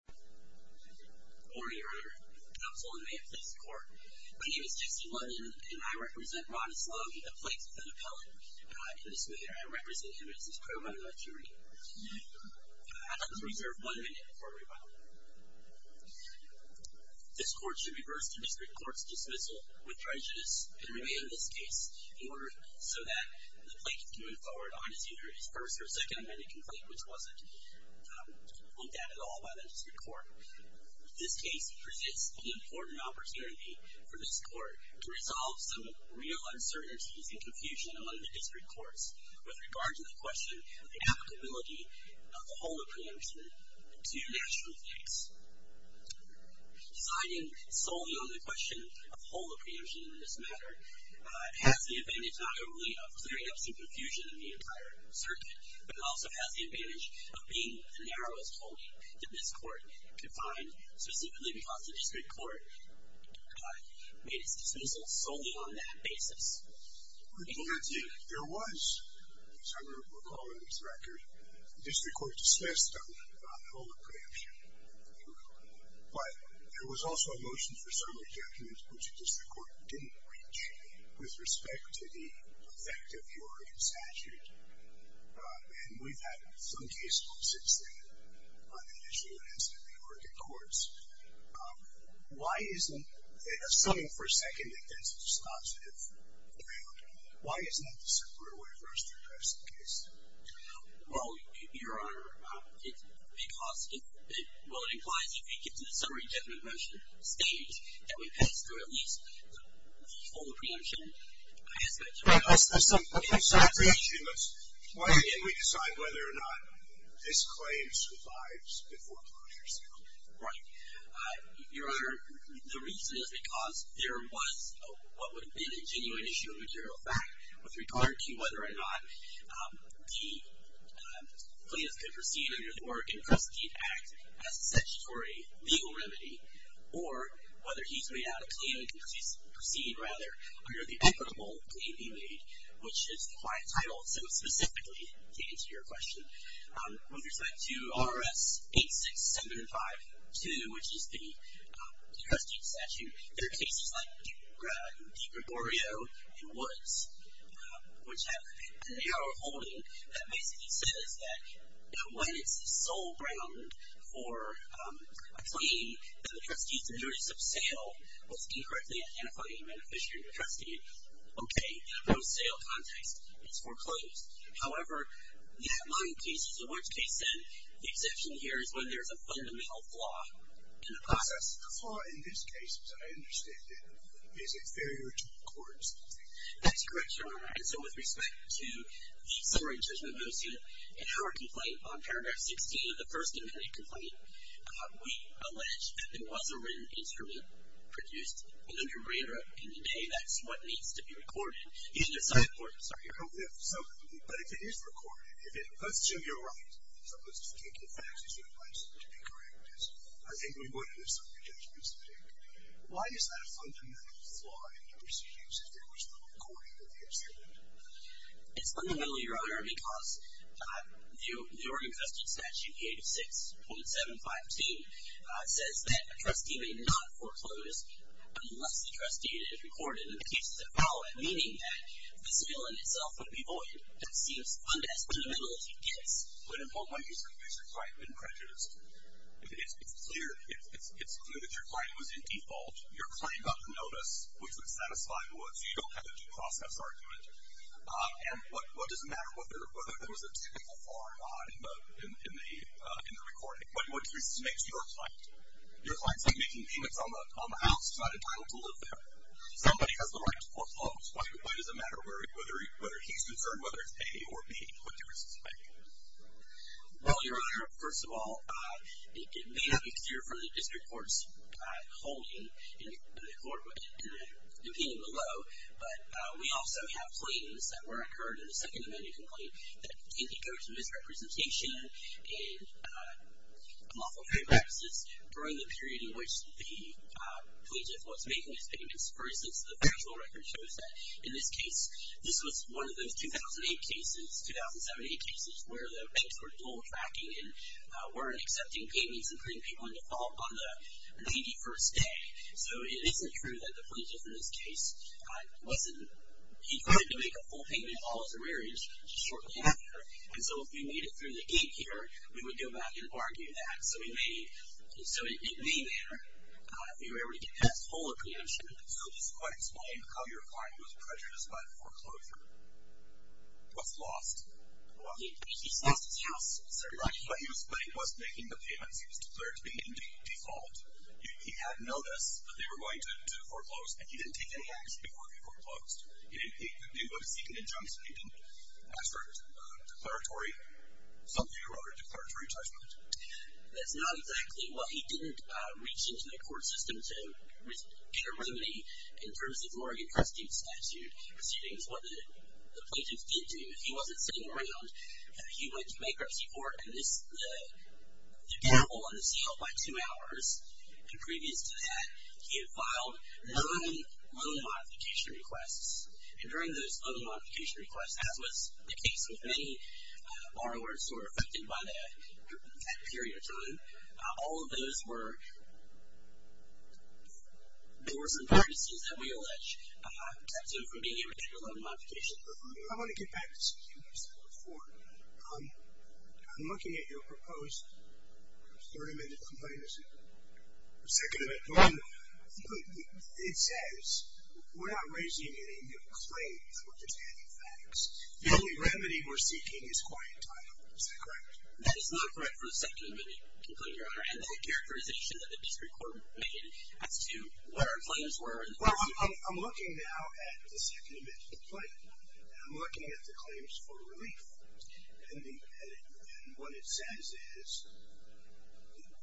My name is Jesse Lutton and I represent Ron Sloan, a plaintiff and appellate, and I represent him as his pro bono jury. I must reserve one minute before rebuttal. This court should reverse the district court's dismissal with prejudice and remain in this case in order so that the plaintiff can move forward on his injuries. There was a first or second amendment complaint which wasn't looked at at all by the district court. This case presents an important opportunity for this court to resolve some real uncertainties and confusion among the district courts with regard to the question of the applicability of the whole of preemption to national stakes. Deciding solely on the question of whole of preemption in this matter has the advantage not only of clearing up some confusion in the entire circuit, but it also has the advantage of being the narrowest hole that this court could find, specifically because the district court made its dismissal solely on that basis. Thank you. There was, as I recall in this record, the district court dismissed the whole of preemption, but there was also a motion for summary judgment which the district court didn't reach with respect to the effect of the Oregon statute. And we've had some cases since then on the issue of incident in Oregon courts. Why isn't it, assuming for a second that that's a dispositive view, why isn't that the superior way for us to address the case? Well, Your Honor, it's because, well, it implies that if we get to the summary judgment motion stage, that we pass through at least the whole of preemption aspect. Summary judgment, why can't we decide whether or not this claim survives before closure? Right. Your Honor, the reason is because there was what would have been a genuine issue of material fact with regard to whether or not the plaintiff could proceed under the Oregon Custody Act as a statutory legal remedy, or whether he's made out a claim to proceed, rather, under the equitable claim he made, which is the client title specifically to answer your question. With respect to R.S. 86752, which is the custody statute, there are cases like Deep Gregorio in Woods, which have a narrow holding that basically says that when it's the sole ground for a claim that the trustee's injurious of sale was incorrectly identified as a beneficiary of the trustee, okay, in a no-sale context, it's foreclosed. However, that mining case is a worse case, and the exception here is when there's a fundamental flaw in the process. The flaw in this case, as I understand it, is it fairer to record something? That's correct, Your Honor. And so with respect to the summary judgment in our complaint on paragraph 16 of the first independent complaint, we allege that there was a written instrument produced and underwritten, and today that's what needs to be recorded. But if it is recorded, let's assume you're right, so let's just take the facts as you advise them to be correct, as I think we would if some of your judgments speak. Why is that a fundamental flaw in the proceedings if it was not recorded in the instrument? It's fundamental, Your Honor, because the Oregon Custody Statute, page 6.715, says that a trustee may not foreclose unless the trustee had it recorded in the cases that follow it, meaning that this bill in itself would be void. That seems as fundamental as it gets. But in what way has your client been prejudiced? It's clear that your client was in default. Your client got the notice, which would satisfy what you don't have a due process argument. And what does it matter whether there was a typical flaw or not in the recording? What difference does it make to your client? Your client's not making payments on the house. He's not entitled to live there. Somebody has the right to foreclose. Why does it matter whether he's concerned, whether it's A or B? What difference does it make? Well, Your Honor, first of all, it may not be clear from the district court's holding in the opinion below, but we also have pleadings that were incurred in the Second Amendment complaint that indicate misrepresentation in lawful payment practices during the period in which the plaintiff was making his payments. For instance, the factual record shows that in this case, this was one of those 2007-2008 cases where the banks were dual tracking and weren't accepting payments, including people in default, on the 81st day. So it isn't true that the plaintiff in this case wasn't. He tried to make a full payment of all his arrears shortly after, and so if we made it through the gatekeeper, we would go back and argue that. So it may matter if you were able to get past full accreditation. So just quite explain how your client was prejudiced by the foreclosure. He was lost. He lost his house, certainly. But he was making the payments. He was declared to be in default. He had notice that they were going to foreclose, and he didn't take any action before he foreclosed. He didn't go to seek an injunction. He didn't assert declaratory something or other, declaratory judgment. That's not exactly what he did. He didn't reach into the court system to get a remedy in terms of the Oregon Custody Statute proceedings. What the plaintiff did do, if he wasn't sitting around, he went to bankruptcy court and the gavel unsealed by two hours. And previous to that, he had filed nine loan modification requests. And during those loan modification requests, as was the case with many borrowers who were affected by that period of time, all of those were laws and practices that we allege kept him from being able to take a loan modification. I want to get back to something you said before. I'm looking at your proposed 30-minute complaint or second amendment. It says we're not raising any new claims. We're just adding facts. The only remedy we're seeking is quiet time. Is that correct? That is not correct for the second amendment complaint, Your Honor, and the characterization that the district court made as to what our claims were. Well, I'm looking now at the second amendment complaint, and I'm looking at the claims for relief. And what it says is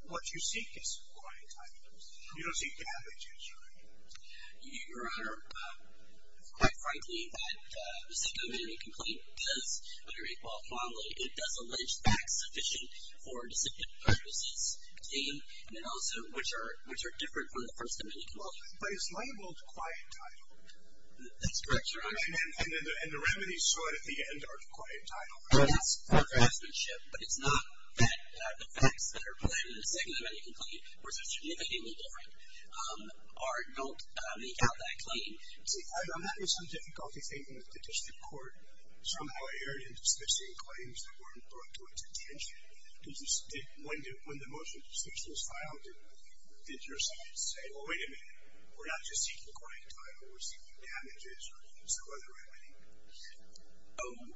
what you seek is quiet time. You don't seek to have a judge. Your Honor, quite frankly, that the second amendment complaint does underwrite well formally. It does allege facts sufficient for disciplinary purposes, and also which are different from the first amendment complaint. But it's labeled quiet time. That's correct, Your Honor. And the remedies sought at the end are the quiet time. That's for craftsmanship, but it's not that the facts that are provided in the second amendment complaint were significantly different or don't make out that claim. See, I'm having some difficulty thinking that the district court somehow erred in dismissing claims that weren't brought to its attention. When the motion was filed, did your side say, well, wait a minute, we're not just seeking quiet time, we're seeking damages or some other remedy?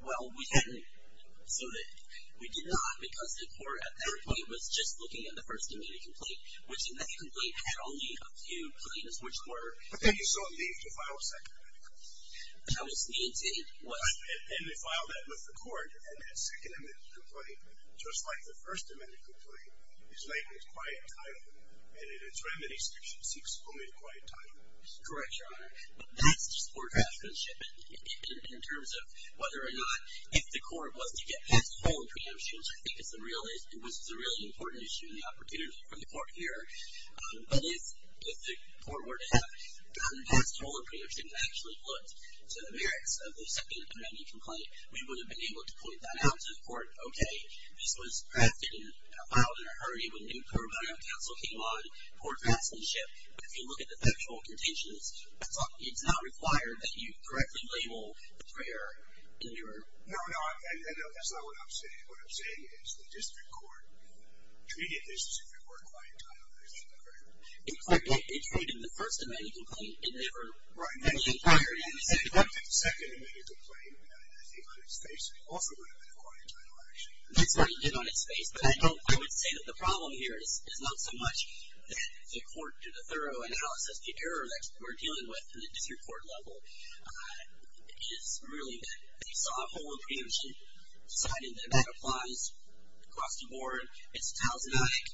Well, we did not because the court at that point was just looking at the first amendment complaint, which in that complaint had only a few claims, which were But then you still needed to file a second amendment complaint. That was needed. And they filed that with the court, and that second amendment complaint, just like the first amendment complaint, is labeled quiet time, and in its remedy section seeks only the quiet time. That's correct, Your Honor. But that's just for craftsmanship in terms of whether or not if the court was to get past the following preemptions, I think it was a really important issue and the opportunity for the court here, but if the court were to have gotten past all the preemptions and actually looked to the merits of the second amendment complaint, we would have been able to point that out to the court, okay, this was crafted and filed in a hurry when new court of counsel came on, poor craftsmanship. If you look at the factual contentions, it's not required that you directly label the prior. No, no, that's not what I'm saying. What I'm saying is the district court treated this as if it were quiet time. It treated the first amendment complaint as if it were quiet time. Right, and the second amendment complaint, I think on its face, also would have been quiet time, actually. That's what it did on its face, but I would say that the problem here is not so much that the court did a thorough analysis, the error that we're dealing with in the district court level is really that they saw a whole preemption, decided that that applies across the board. It's a talismanic.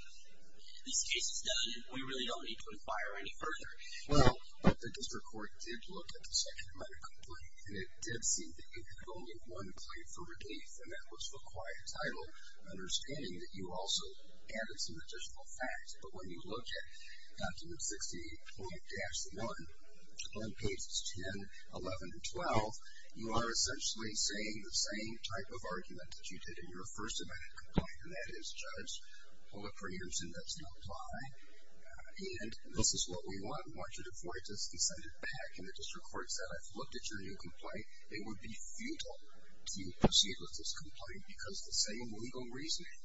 This case is done, and we really don't need to inquire any further. Well, but the district court did look at the second amendment complaint, and it did seem that you had only one claim for relief, and that was for quiet title, understanding that you also added some additional facts. But when you look at document 68.-1 on pages 10, 11, and 12, you are essentially saying the same type of argument that you did in your first amendment complaint, and that is judge, pull the preemption, that's not a lie. And this is what we want. We want you to forward this and send it back, and the district court said, I've looked at your new complaint. It would be futile to proceed with this complaint, because the same legal reasoning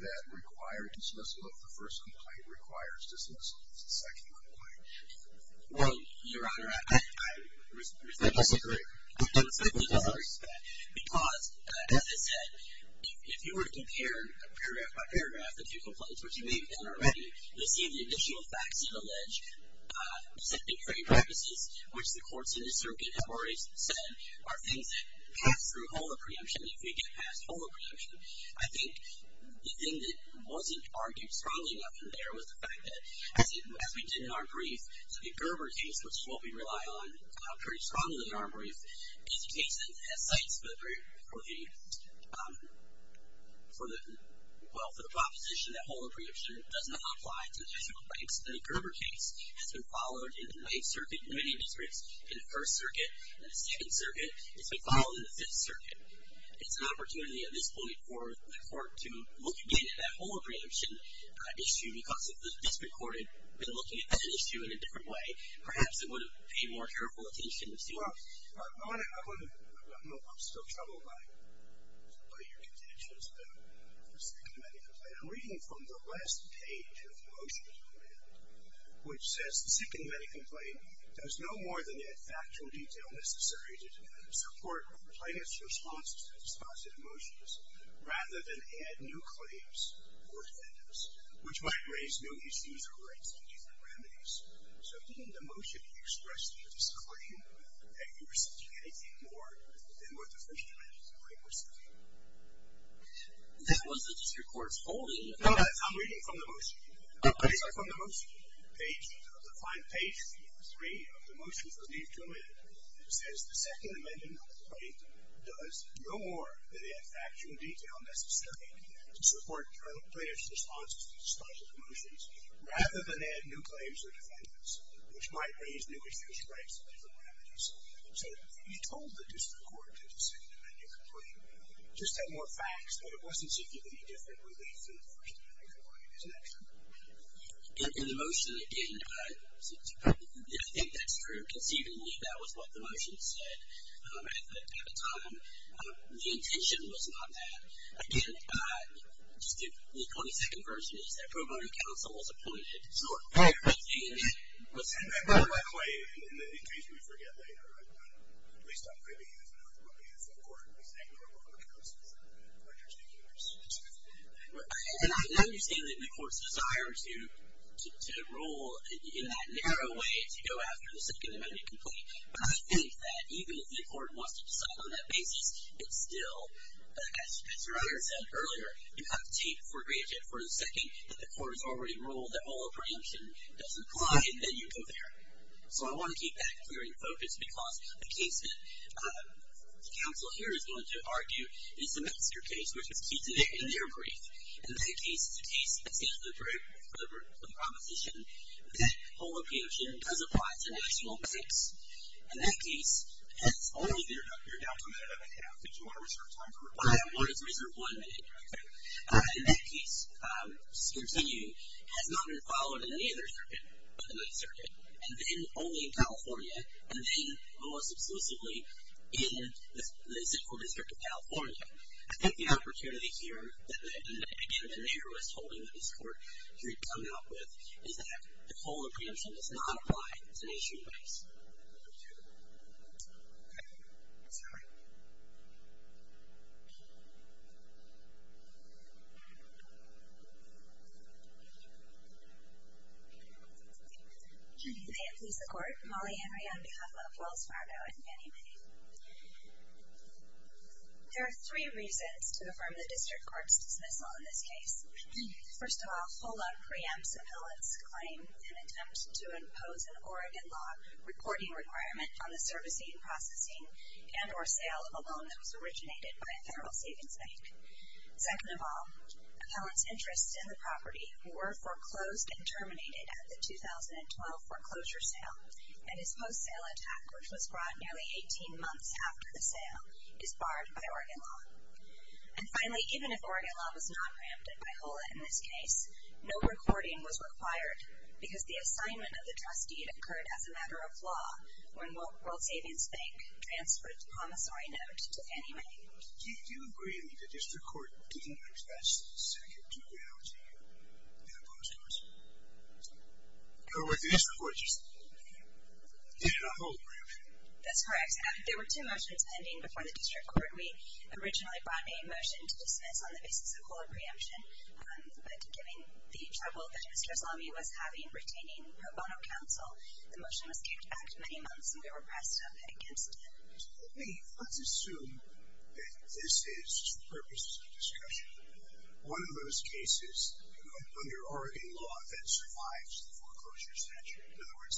that required dismissal of the first complaint requires dismissal of the second complaint. Well, Your Honor, I respectfully disagree. I respectfully disagree with that. Because, as I said, if you were to compare paragraph by paragraph the two complaints, which you may have done already, you'll see the additional facts you allege, second decree premises, which the courts in this circuit have already said, are things that pass through whole of preemption if we get past whole of preemption. I think the thing that wasn't argued strongly enough in there was the fact that, as we did in our brief, the Gerber case, which is what we rely on pretty strongly in our brief, is a case that has sites for the proposition that whole of preemption does not apply to the two complaints. The Gerber case has been followed in the Ninth Circuit in many districts, in the First Circuit, in the Second Circuit. It's been followed in the Fifth Circuit. It's an opportunity at this point for the court to look again at that whole of preemption, but looking at that issue in a different way. Perhaps it would have paid more careful attention to see what. Well, I'm still troubled by your contentions about the second many complaint. I'm reading from the last page of the motion, which says, the second many complaint does no more than add factual detail necessary to support plaintiff's response to emotions, rather than add new claims or defendants, which might raise new issues or raise new remedies. So didn't the motion express the discretion that you were seeking anything more than what the first many complaint was seeking? That wasn't just your court's holding. No, I'm reading from the motion. Okay. I'm reading from the motion. Page, the final page, page three of the motion for leave to amend says, the second many complaint does no more than add factual detail necessary to support plaintiff's response to emotional emotions, rather than add new claims or defendants, which might raise new issues or raise new remedies. So you told the district court that the second many complaint just had more facts, but it wasn't seeking any different relief than the first many complaint. Isn't that true? In the motion, again, I think that's true. Conceivably, that was what the motion said at the time. The intention was not that. Again, the 22nd version is that pro bono counsel was appointed. Sure. By the way, in case we forget later, at least I'm going to use the word pro bono counsel as an interstitial. And I understand that the court's desire to rule in that narrow way to go after the second many complaint. But I think that even if the court wants to decide on that basis, it's still, as your honor said earlier, you have to take for granted for the second that the court has already ruled that holo preemption doesn't apply, and then you go there. So I want to keep that clear in focus because the case that the counsel here is going to argue is the master case, which is key to their brief. And that case is a case that stands for the proposition that holo preemption does apply to national banks. And that case has only been up here now for a minute and a half. Did you want to reserve time for it? I wanted to reserve one minute. Okay. And that case, just to continue, has not been followed in any other circuit but the Ninth Circuit, and then only in California, and then most exclusively in the Central District of California. I think the opportunity here that, again, the narrowest holding that this court here has come out with is that the holo preemption does not apply to national banks. Thank you. Thank you. Ms. Howard? Good evening. Lisa Court, Molly Henry on behalf of Wells Fargo and Fannie Mae. There are three reasons to affirm the district court's dismissal in this case. First off, holo preempts appellants' claim in an attempt to impose an Oregon law reporting requirement on the servicing, processing, and or sale of a loan that was originated by a federal savings bank. Second of all, appellants' interests in the property were foreclosed and terminated at the 2012 foreclosure sale and this post-sale attack, which was brought nearly 18 months after the sale, is barred by Oregon law. And finally, even if Oregon law was not ramped up by holo in this case, no recording was required because the assignment of the trustee had occurred as a matter of law when World Savings Bank transferred the promissory note to Fannie Mae. Do you agree that the district court didn't address the second duality in the post-courts? The district court just did a holo preemption. That's correct. There were two motions pending before the district court. We originally brought a motion to dismiss on the basis of holo preemption, but given the trouble that Mr. Aslami was having retaining pro bono counsel, the motion was kicked back many months and we were pressed up against it. Tell me, let's assume that this is, for purposes of discussion, one of those cases under Oregon law that survives the foreclosure statute. In other words,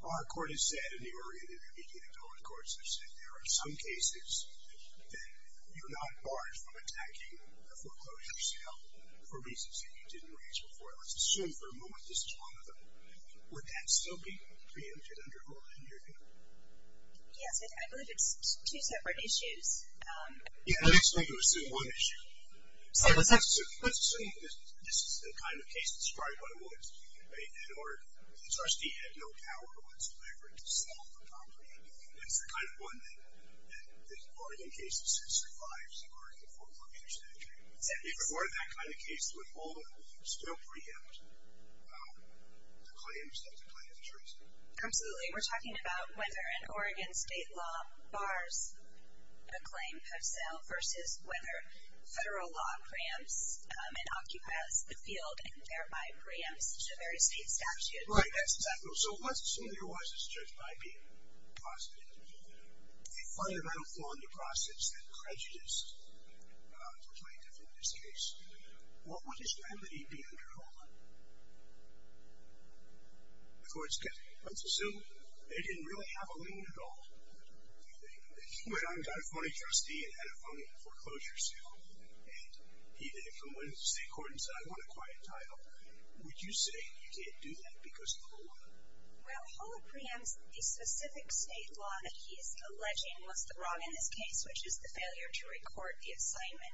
our court has said, and the Oregon intermediate appellate courts have said, there are some cases that you're not barred from attacking the foreclosure sale for reasons that you didn't raise before. Let's assume for a moment this is one of them. Would that still be preempted under holo in your view? Yes, I believe it's two separate issues. Yeah, I'd expect to assume one issue. Let's assume that this is the kind of case that's probably what it was. In other words, the trustee had no power whatsoever to sell the property. That's the kind of one that the Oregon case that survives the Oregon foreclosure statute. If it weren't that kind of case, would holo still preempt the claims that the client has raised? Absolutely. We're talking about whether an Oregon state law bars the claim of sale versus whether federal law preempts and occupies the field and thereby preempts the various state statutes. Right, that's exactly right. So let's assume there was this judge might be possibly a fundamental flaw in the process that prejudiced the plaintiff in this case. What would his remedy be under holo? Of course, so they didn't really have a lien at all. He went on and got a phony trustee and had a phony foreclosure suit, and he did it from within the state court and said, I want a quiet title. Would you say you can't do that because of holo? Well, holo preempts the specific state law that he is alleging was wrong in this case, which is the failure to record the assignment.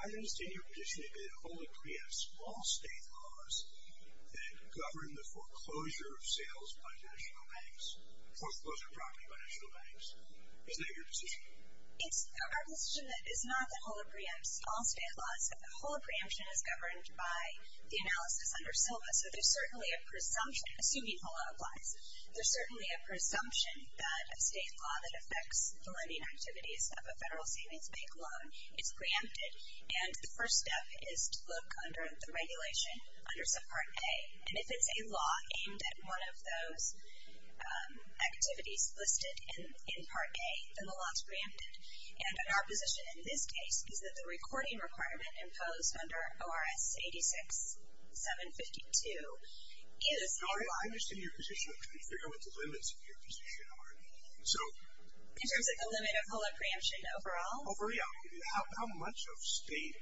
I understand your position that holo preempts all state laws that govern the foreclosure of sales by national banks or foreclosure of property by national banks. Is that your position? Our position is not that holo preempts all state laws, but holo preemption is governed by the analysis under Silva. So there's certainly a presumption, assuming holo applies, there's certainly a presumption that a state law that affects the lending activities of a federal savings bank loan is preempted, and the first step is to look under the regulation under subpart A. And if it's a law aimed at one of those activities listed in part A, then the law is preempted. And our position in this case is that the recording requirement imposed under ORS 86-752 is a lie. I understand your position. I'm trying to figure out what the limits of your position are. In terms of the limit of holo preemption overall? Overall. How much of state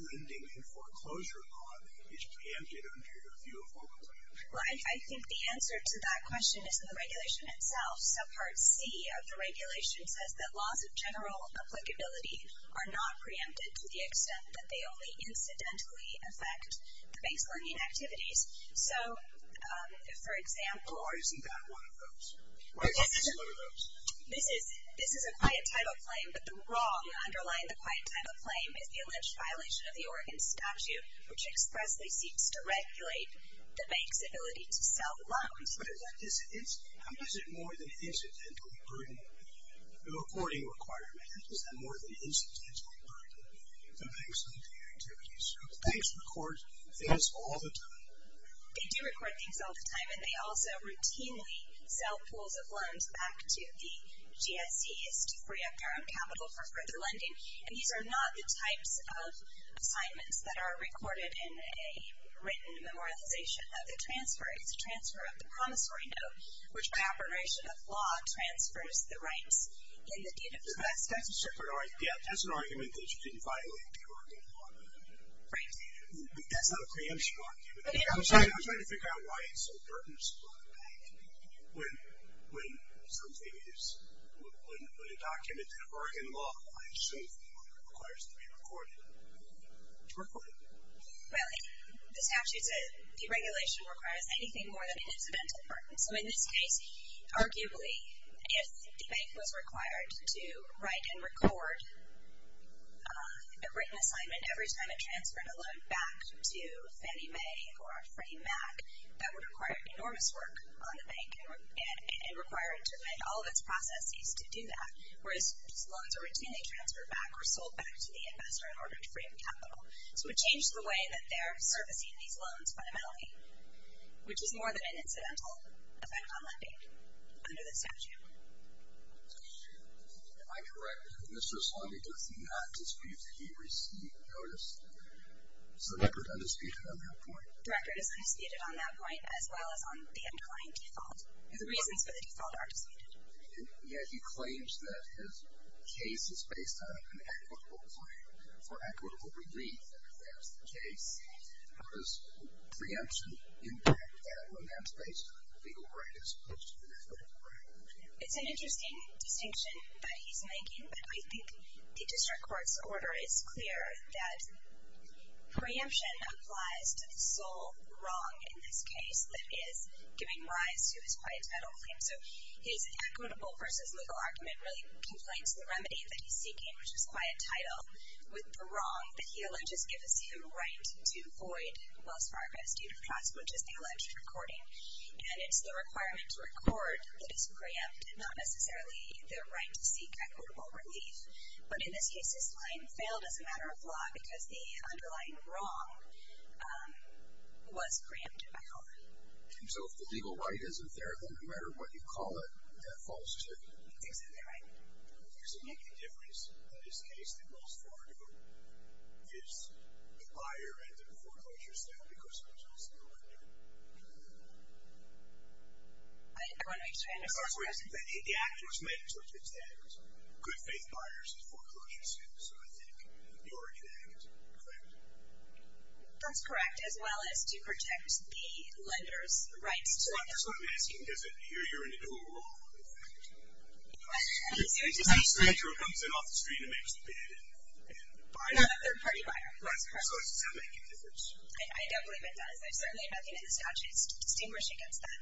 lending and foreclosure law is preempted under your view of holo preemption? Well, I think the answer to that question is in the regulation itself. Subpart C of the regulation says that laws of general applicability are not preempted to the extent that they only incidentally affect the bank's lending activities. So, for example. Or isn't that one of those? This is a quiet type of claim, but the wrong underlying the quiet type of claim is the alleged violation of the Oregon Statute, which expressly seeks to regulate the bank's ability to sell loans. But is it more than incidentally burdening the recording requirement? Is that more than incidentally burdening the bank's lending activities? Banks record things all the time. They do record things all the time, and they also routinely sell pools of loans back to the GSEs to free up their own capital for further lending. And these are not the types of assignments that are recorded in a written memorialization of the transfer. It's a transfer of the promissory note, which by operation of law transfers the rights in the deed of trust. Yeah, that's an argument that you didn't violate the Oregon law. Right. That's not a preemption argument. I'm trying to figure out why it's so burdensome on the bank when something is, when a document in Oregon law, I assume, requires to be recorded. It's recorded. Well, the statute's deregulation requires anything more than an incidental burden. So in this case, arguably, if the bank was required to write and record a written assignment and every time it transferred a loan back to Fannie Mae or Freddie Mac, that would require enormous work on the bank and require it to amend all of its processes to do that, whereas these loans are routinely transferred back or sold back to the investor in order to free up capital. So it changes the way that they're servicing these loans fundamentally, which is more than an incidental effect on lending under the statute. Am I correct that Mr. Sloney does not dispute that he received notice of the record undisputed on that point? The record is undisputed on that point as well as on the underlying default. The reasons for the default are disputed. Yet he claims that his case is based on an equitable claim for equitable relief if that's the case. How does preemption impact that when that's based on the legal right as opposed to the default right? It's an interesting distinction that he's making, but I think the district court's order is clear that preemption applies to the sole wrong in this case that is giving rise to his quiet title claim. So his equitable versus legal argument really complains to the remedy that he's seeking, which is quiet title, with the wrong that he alleges gives him the right to void Wells Fargo's due to trust, which is the alleged recording. And it's the requirement to record that it's preempt and not necessarily the right to seek equitable relief. But in this case, his claim failed as a matter of law because the underlying wrong was preempted by law. And so if the legal right isn't there, then no matter what you call it, that falls to him. Exactly right. Does it make any difference that his case, the Wells Fargo, is the higher end of the foreclosure still because he's still under? I want to make sure I understand. The act was made to protect good faith buyers of foreclosures. So I think the origin act, correct? That's correct, as well as to protect the lender's rights to their property. So that's what I'm asking. Does it appear you're in a dual role, in fact? I'm serious. It's just a stranger who comes in off the street and makes the bid and buys it. No, a third party buyer. That's correct. So does that make any difference? I don't believe it does. There's certainly nothing in the statute that's distinguished against that.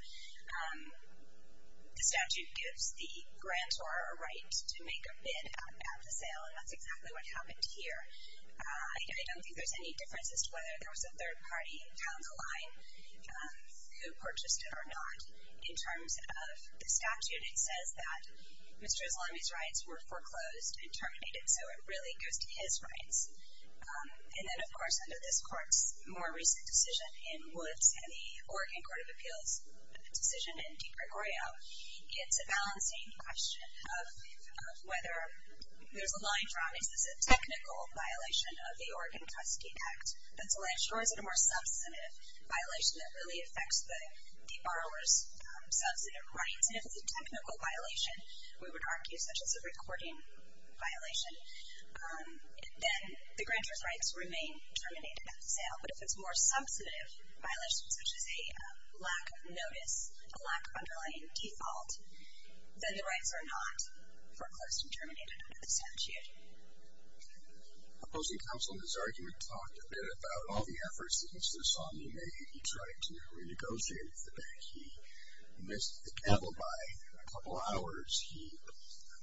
The statute gives the grantor a right to make a bid at the sale, and that's exactly what happened here. I don't think there's any differences to whether there was a third party down the line who purchased it or not. In terms of the statute, it says that Mr. Aslami's rights were foreclosed and terminated. So it really goes to his rights. And then, of course, under this court's more recent decision, in Woods and the Oregon Court of Appeals' decision in DePrigorio, it's a balancing question of whether there's a line drawn. Is this a technical violation of the Oregon Custody Act? That's the last straw. Is it a more substantive violation that really affects the borrower's substantive rights? And if it's a technical violation, we would argue such as a recording violation, then the grantor's rights remain terminated at the sale. But if it's a more substantive violation, such as a lack of notice, a lack of underlying default, then the rights are not foreclosed and terminated under the statute. Opposing counsel in his argument talked a bit about all the efforts that Mr. Aslami made in trying to renegotiate the bank. He missed the cattle by a couple hours. He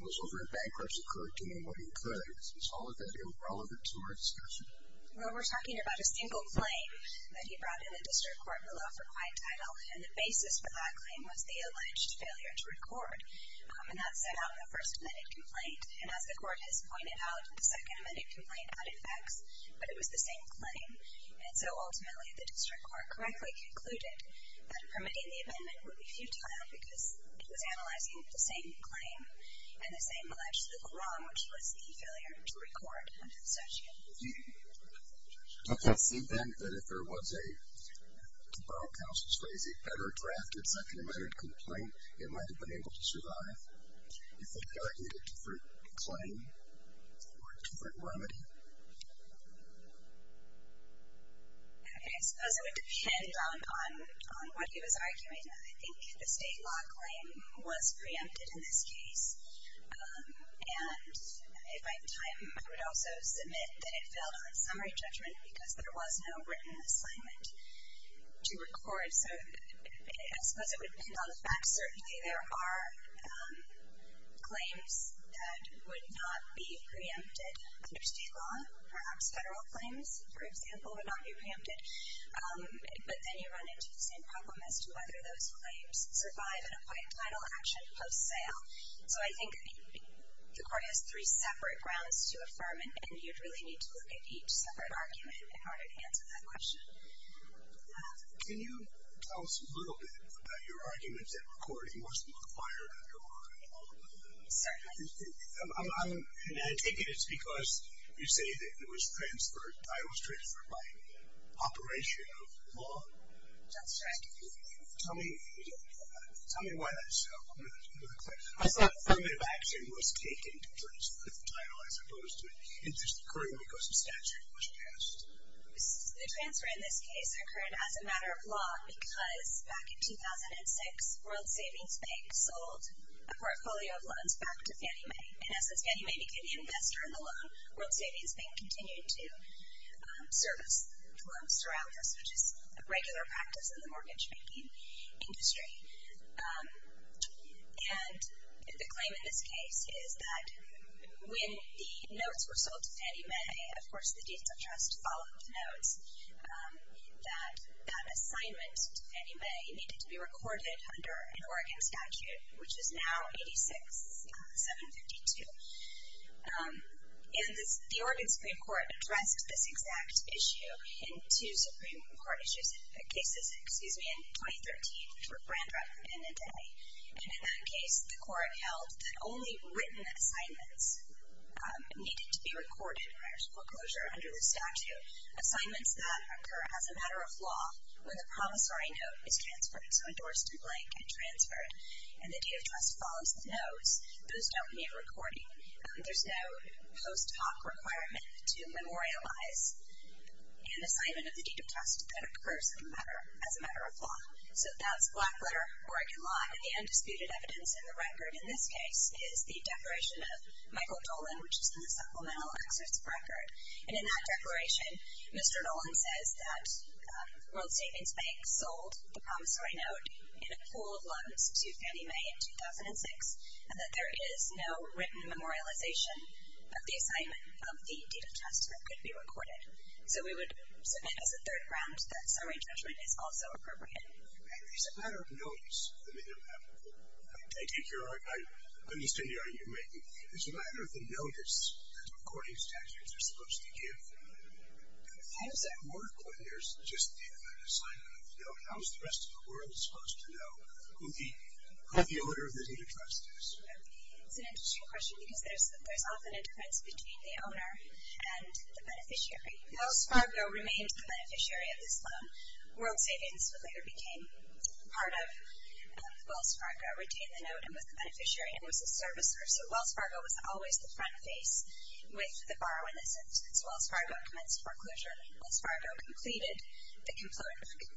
was over in bankruptcy court doing what he could. Is all of that irrelevant to our discussion? Well, we're talking about a single claim that he brought in the district court below for quiet title. And the basis for that claim was the alleged failure to record. And that set out the first amended complaint. And as the court has pointed out, the second amended complaint had effects. But it was the same claim. And so ultimately, the district court correctly concluded that permitting the amendment would be futile because it was analyzing the same claim and the same alleged legal wrong, which was the failure to record under the statute. OK. Do you think then that if there was a, to borrow counsel's phrase, a better-drafted second amended complaint, it might have been able to survive? Do you think there would be a different claim or a different remedy? OK. I suppose it would depend on what he was arguing. I think the state law claim was preempted in this case. And if I time, I would also submit that it failed on summary judgment because there was no written assignment to record. So I suppose it would depend on the fact certainly there are claims that would not be preempted under state law. Perhaps federal claims, for example, would not be preempted. But then you run into the same problem as to whether those claims survive in a quiet title action post-sale. So I think the court has three separate grounds to affirm it. And you'd really need to look at each separate argument in order to answer that question. Can you tell us a little bit about your argument that recording wasn't required under law? Certainly. And I take it it's because you say that it was transferred, that it was transferred by operation of law? That's right. Tell me why that's so. I thought affirmative action was taken to transfer the title as opposed to it. It just occurred because the statute was passed. The transfer in this case occurred as a matter of law because back in 2006, World Savings Bank sold a portfolio of loans back to Fannie Mae. And as the Fannie Mae became the investor in the loan, World Savings Bank continued to service the loans around us, which is a regular practice in the mortgage-making industry. And the claim in this case is that when the notes were sold to Fannie Mae, of course the deeds of trust follow up notes, that that assignment to Fannie Mae needed to be recorded under an Oregon statute, which is now 86-752. And the Oregon Supreme Court addressed this exact issue in two Supreme Court cases in 2013, to a grand record in a day. And in that case, the court held that only written assignments needed to be recorded prior to foreclosure under the statute. Assignments that occur as a matter of law when the promissory note is transferred, so endorsed in blank and transferred, and the deed of trust follows the notes, those don't need recording. There's no post hoc requirement to memorialize an assignment of the deed of trust that occurs as a matter of law. So that's black letter, Oregon law, and the undisputed evidence in the record in this case is the declaration of Michael Dolan, which is in the supplemental excerpts of record. And in that declaration, Mr. Dolan says that World Savings Bank sold the promissory note in a pool of loans to Fannie Mae in 2006, and that there is no written memorialization of the assignment of the deed of trust that could be recorded. So we would submit as a third round that summary judgment is also appropriate. And there's a matter of notice, the minimum applicable. I take it you're, I understand the argument you're making. There's a matter of the notice that the recording statutes are supposed to give when there's just the assignment of the note. How is the rest of the world supposed to know who the owner of the deed of trust is? It's an interesting question because there's often a difference between the owner and the beneficiary. Wells Fargo remains the beneficiary of this loan. World Savings later became part of Wells Fargo, retained the note, and was the beneficiary and was the servicer. So Wells Fargo was always the front face with the borrowing assistance. So Wells Fargo commenced foreclosure. Wells Fargo completed the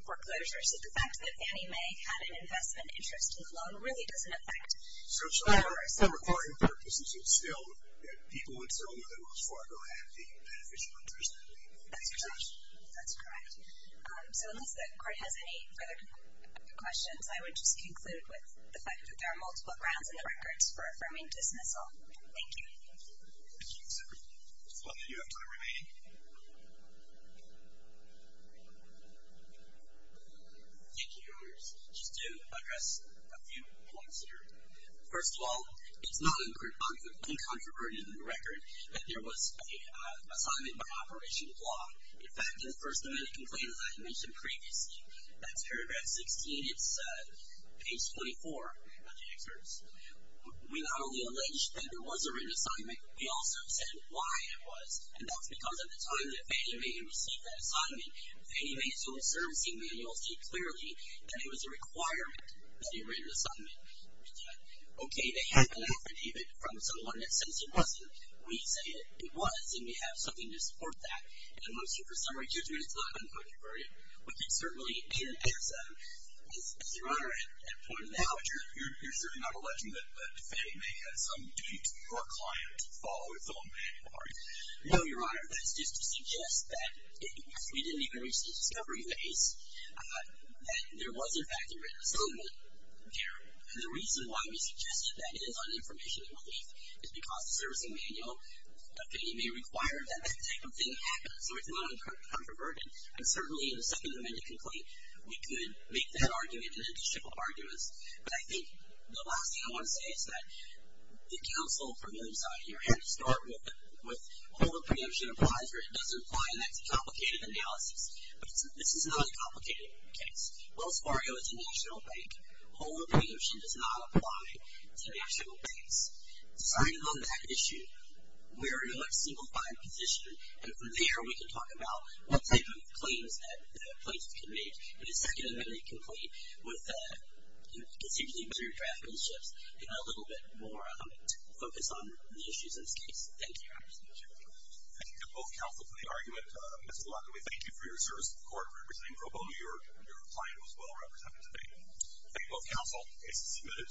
foreclosure. So the fact that Fannie Mae had an investment interest in the loan really doesn't affect borrowers. So for recording purposes, it's still that people in Selma and Wells Fargo have the beneficiary interest in the deed of trust. That's correct. So unless the court has any further questions, I would just conclude with the fact that there are multiple grounds in the records for affirming dismissal. Thank you. Thank you. Does one of you have time remaining? Thank you, Your Honors. Just to address a few points here. First of all, it's not uncontroverted in the record that there was an assignment by operation of law. In fact, in the first amendment complaint, as I had mentioned previously, that's paragraph 16. It's page 24 of the excerpts. We not only allege that there was a written assignment, we also said why it was. And that's because at the time that Fannie Mae had received that assignment, Fannie Mae's own servicing manuals state clearly that it was a requirement that a written assignment was done. Okay, they had been affidavit from someone that says it wasn't. We say it was. And we have something to support that. And once you, for some reason, it's not uncontroverted, we can certainly, as Your Honor, at a point now. But you're certainly not alleging that Fannie Mae had some date for a client to follow its own manual, are you? No, Your Honor. That's just to suggest that we didn't even reach the discovery phase. That there was, in fact, a written assignment there. And the reason why we suggested that is on information relief, is because the servicing manual of Fannie Mae required that that type of thing happen. So it's not uncontroverted. And certainly, in the second amendment complaint, we could make that argument an indestructible argument. But I think the last thing I want to say is that the counsel from the other side, Your Honor, to start with, with hold of preemption applies, or it doesn't apply. And that's a complicated analysis. But this is not a complicated case. Wells Fargo is a national bank. Hold of preemption does not apply to national banks. Deciding on that issue, we are in a much simplified position. And from there, we can talk about what type of claims that the plaintiffs can make in the second amendment complaint with a considerably better draft of the chips and a little bit more focus on the issues in this case. Thank you, Your Honor. Thank you to both counsel for the argument. Mr. LaGuardia, we thank you for your service to the court representing Pro Bono. Your client was well represented today. Thank you both counsel. Case is submitted.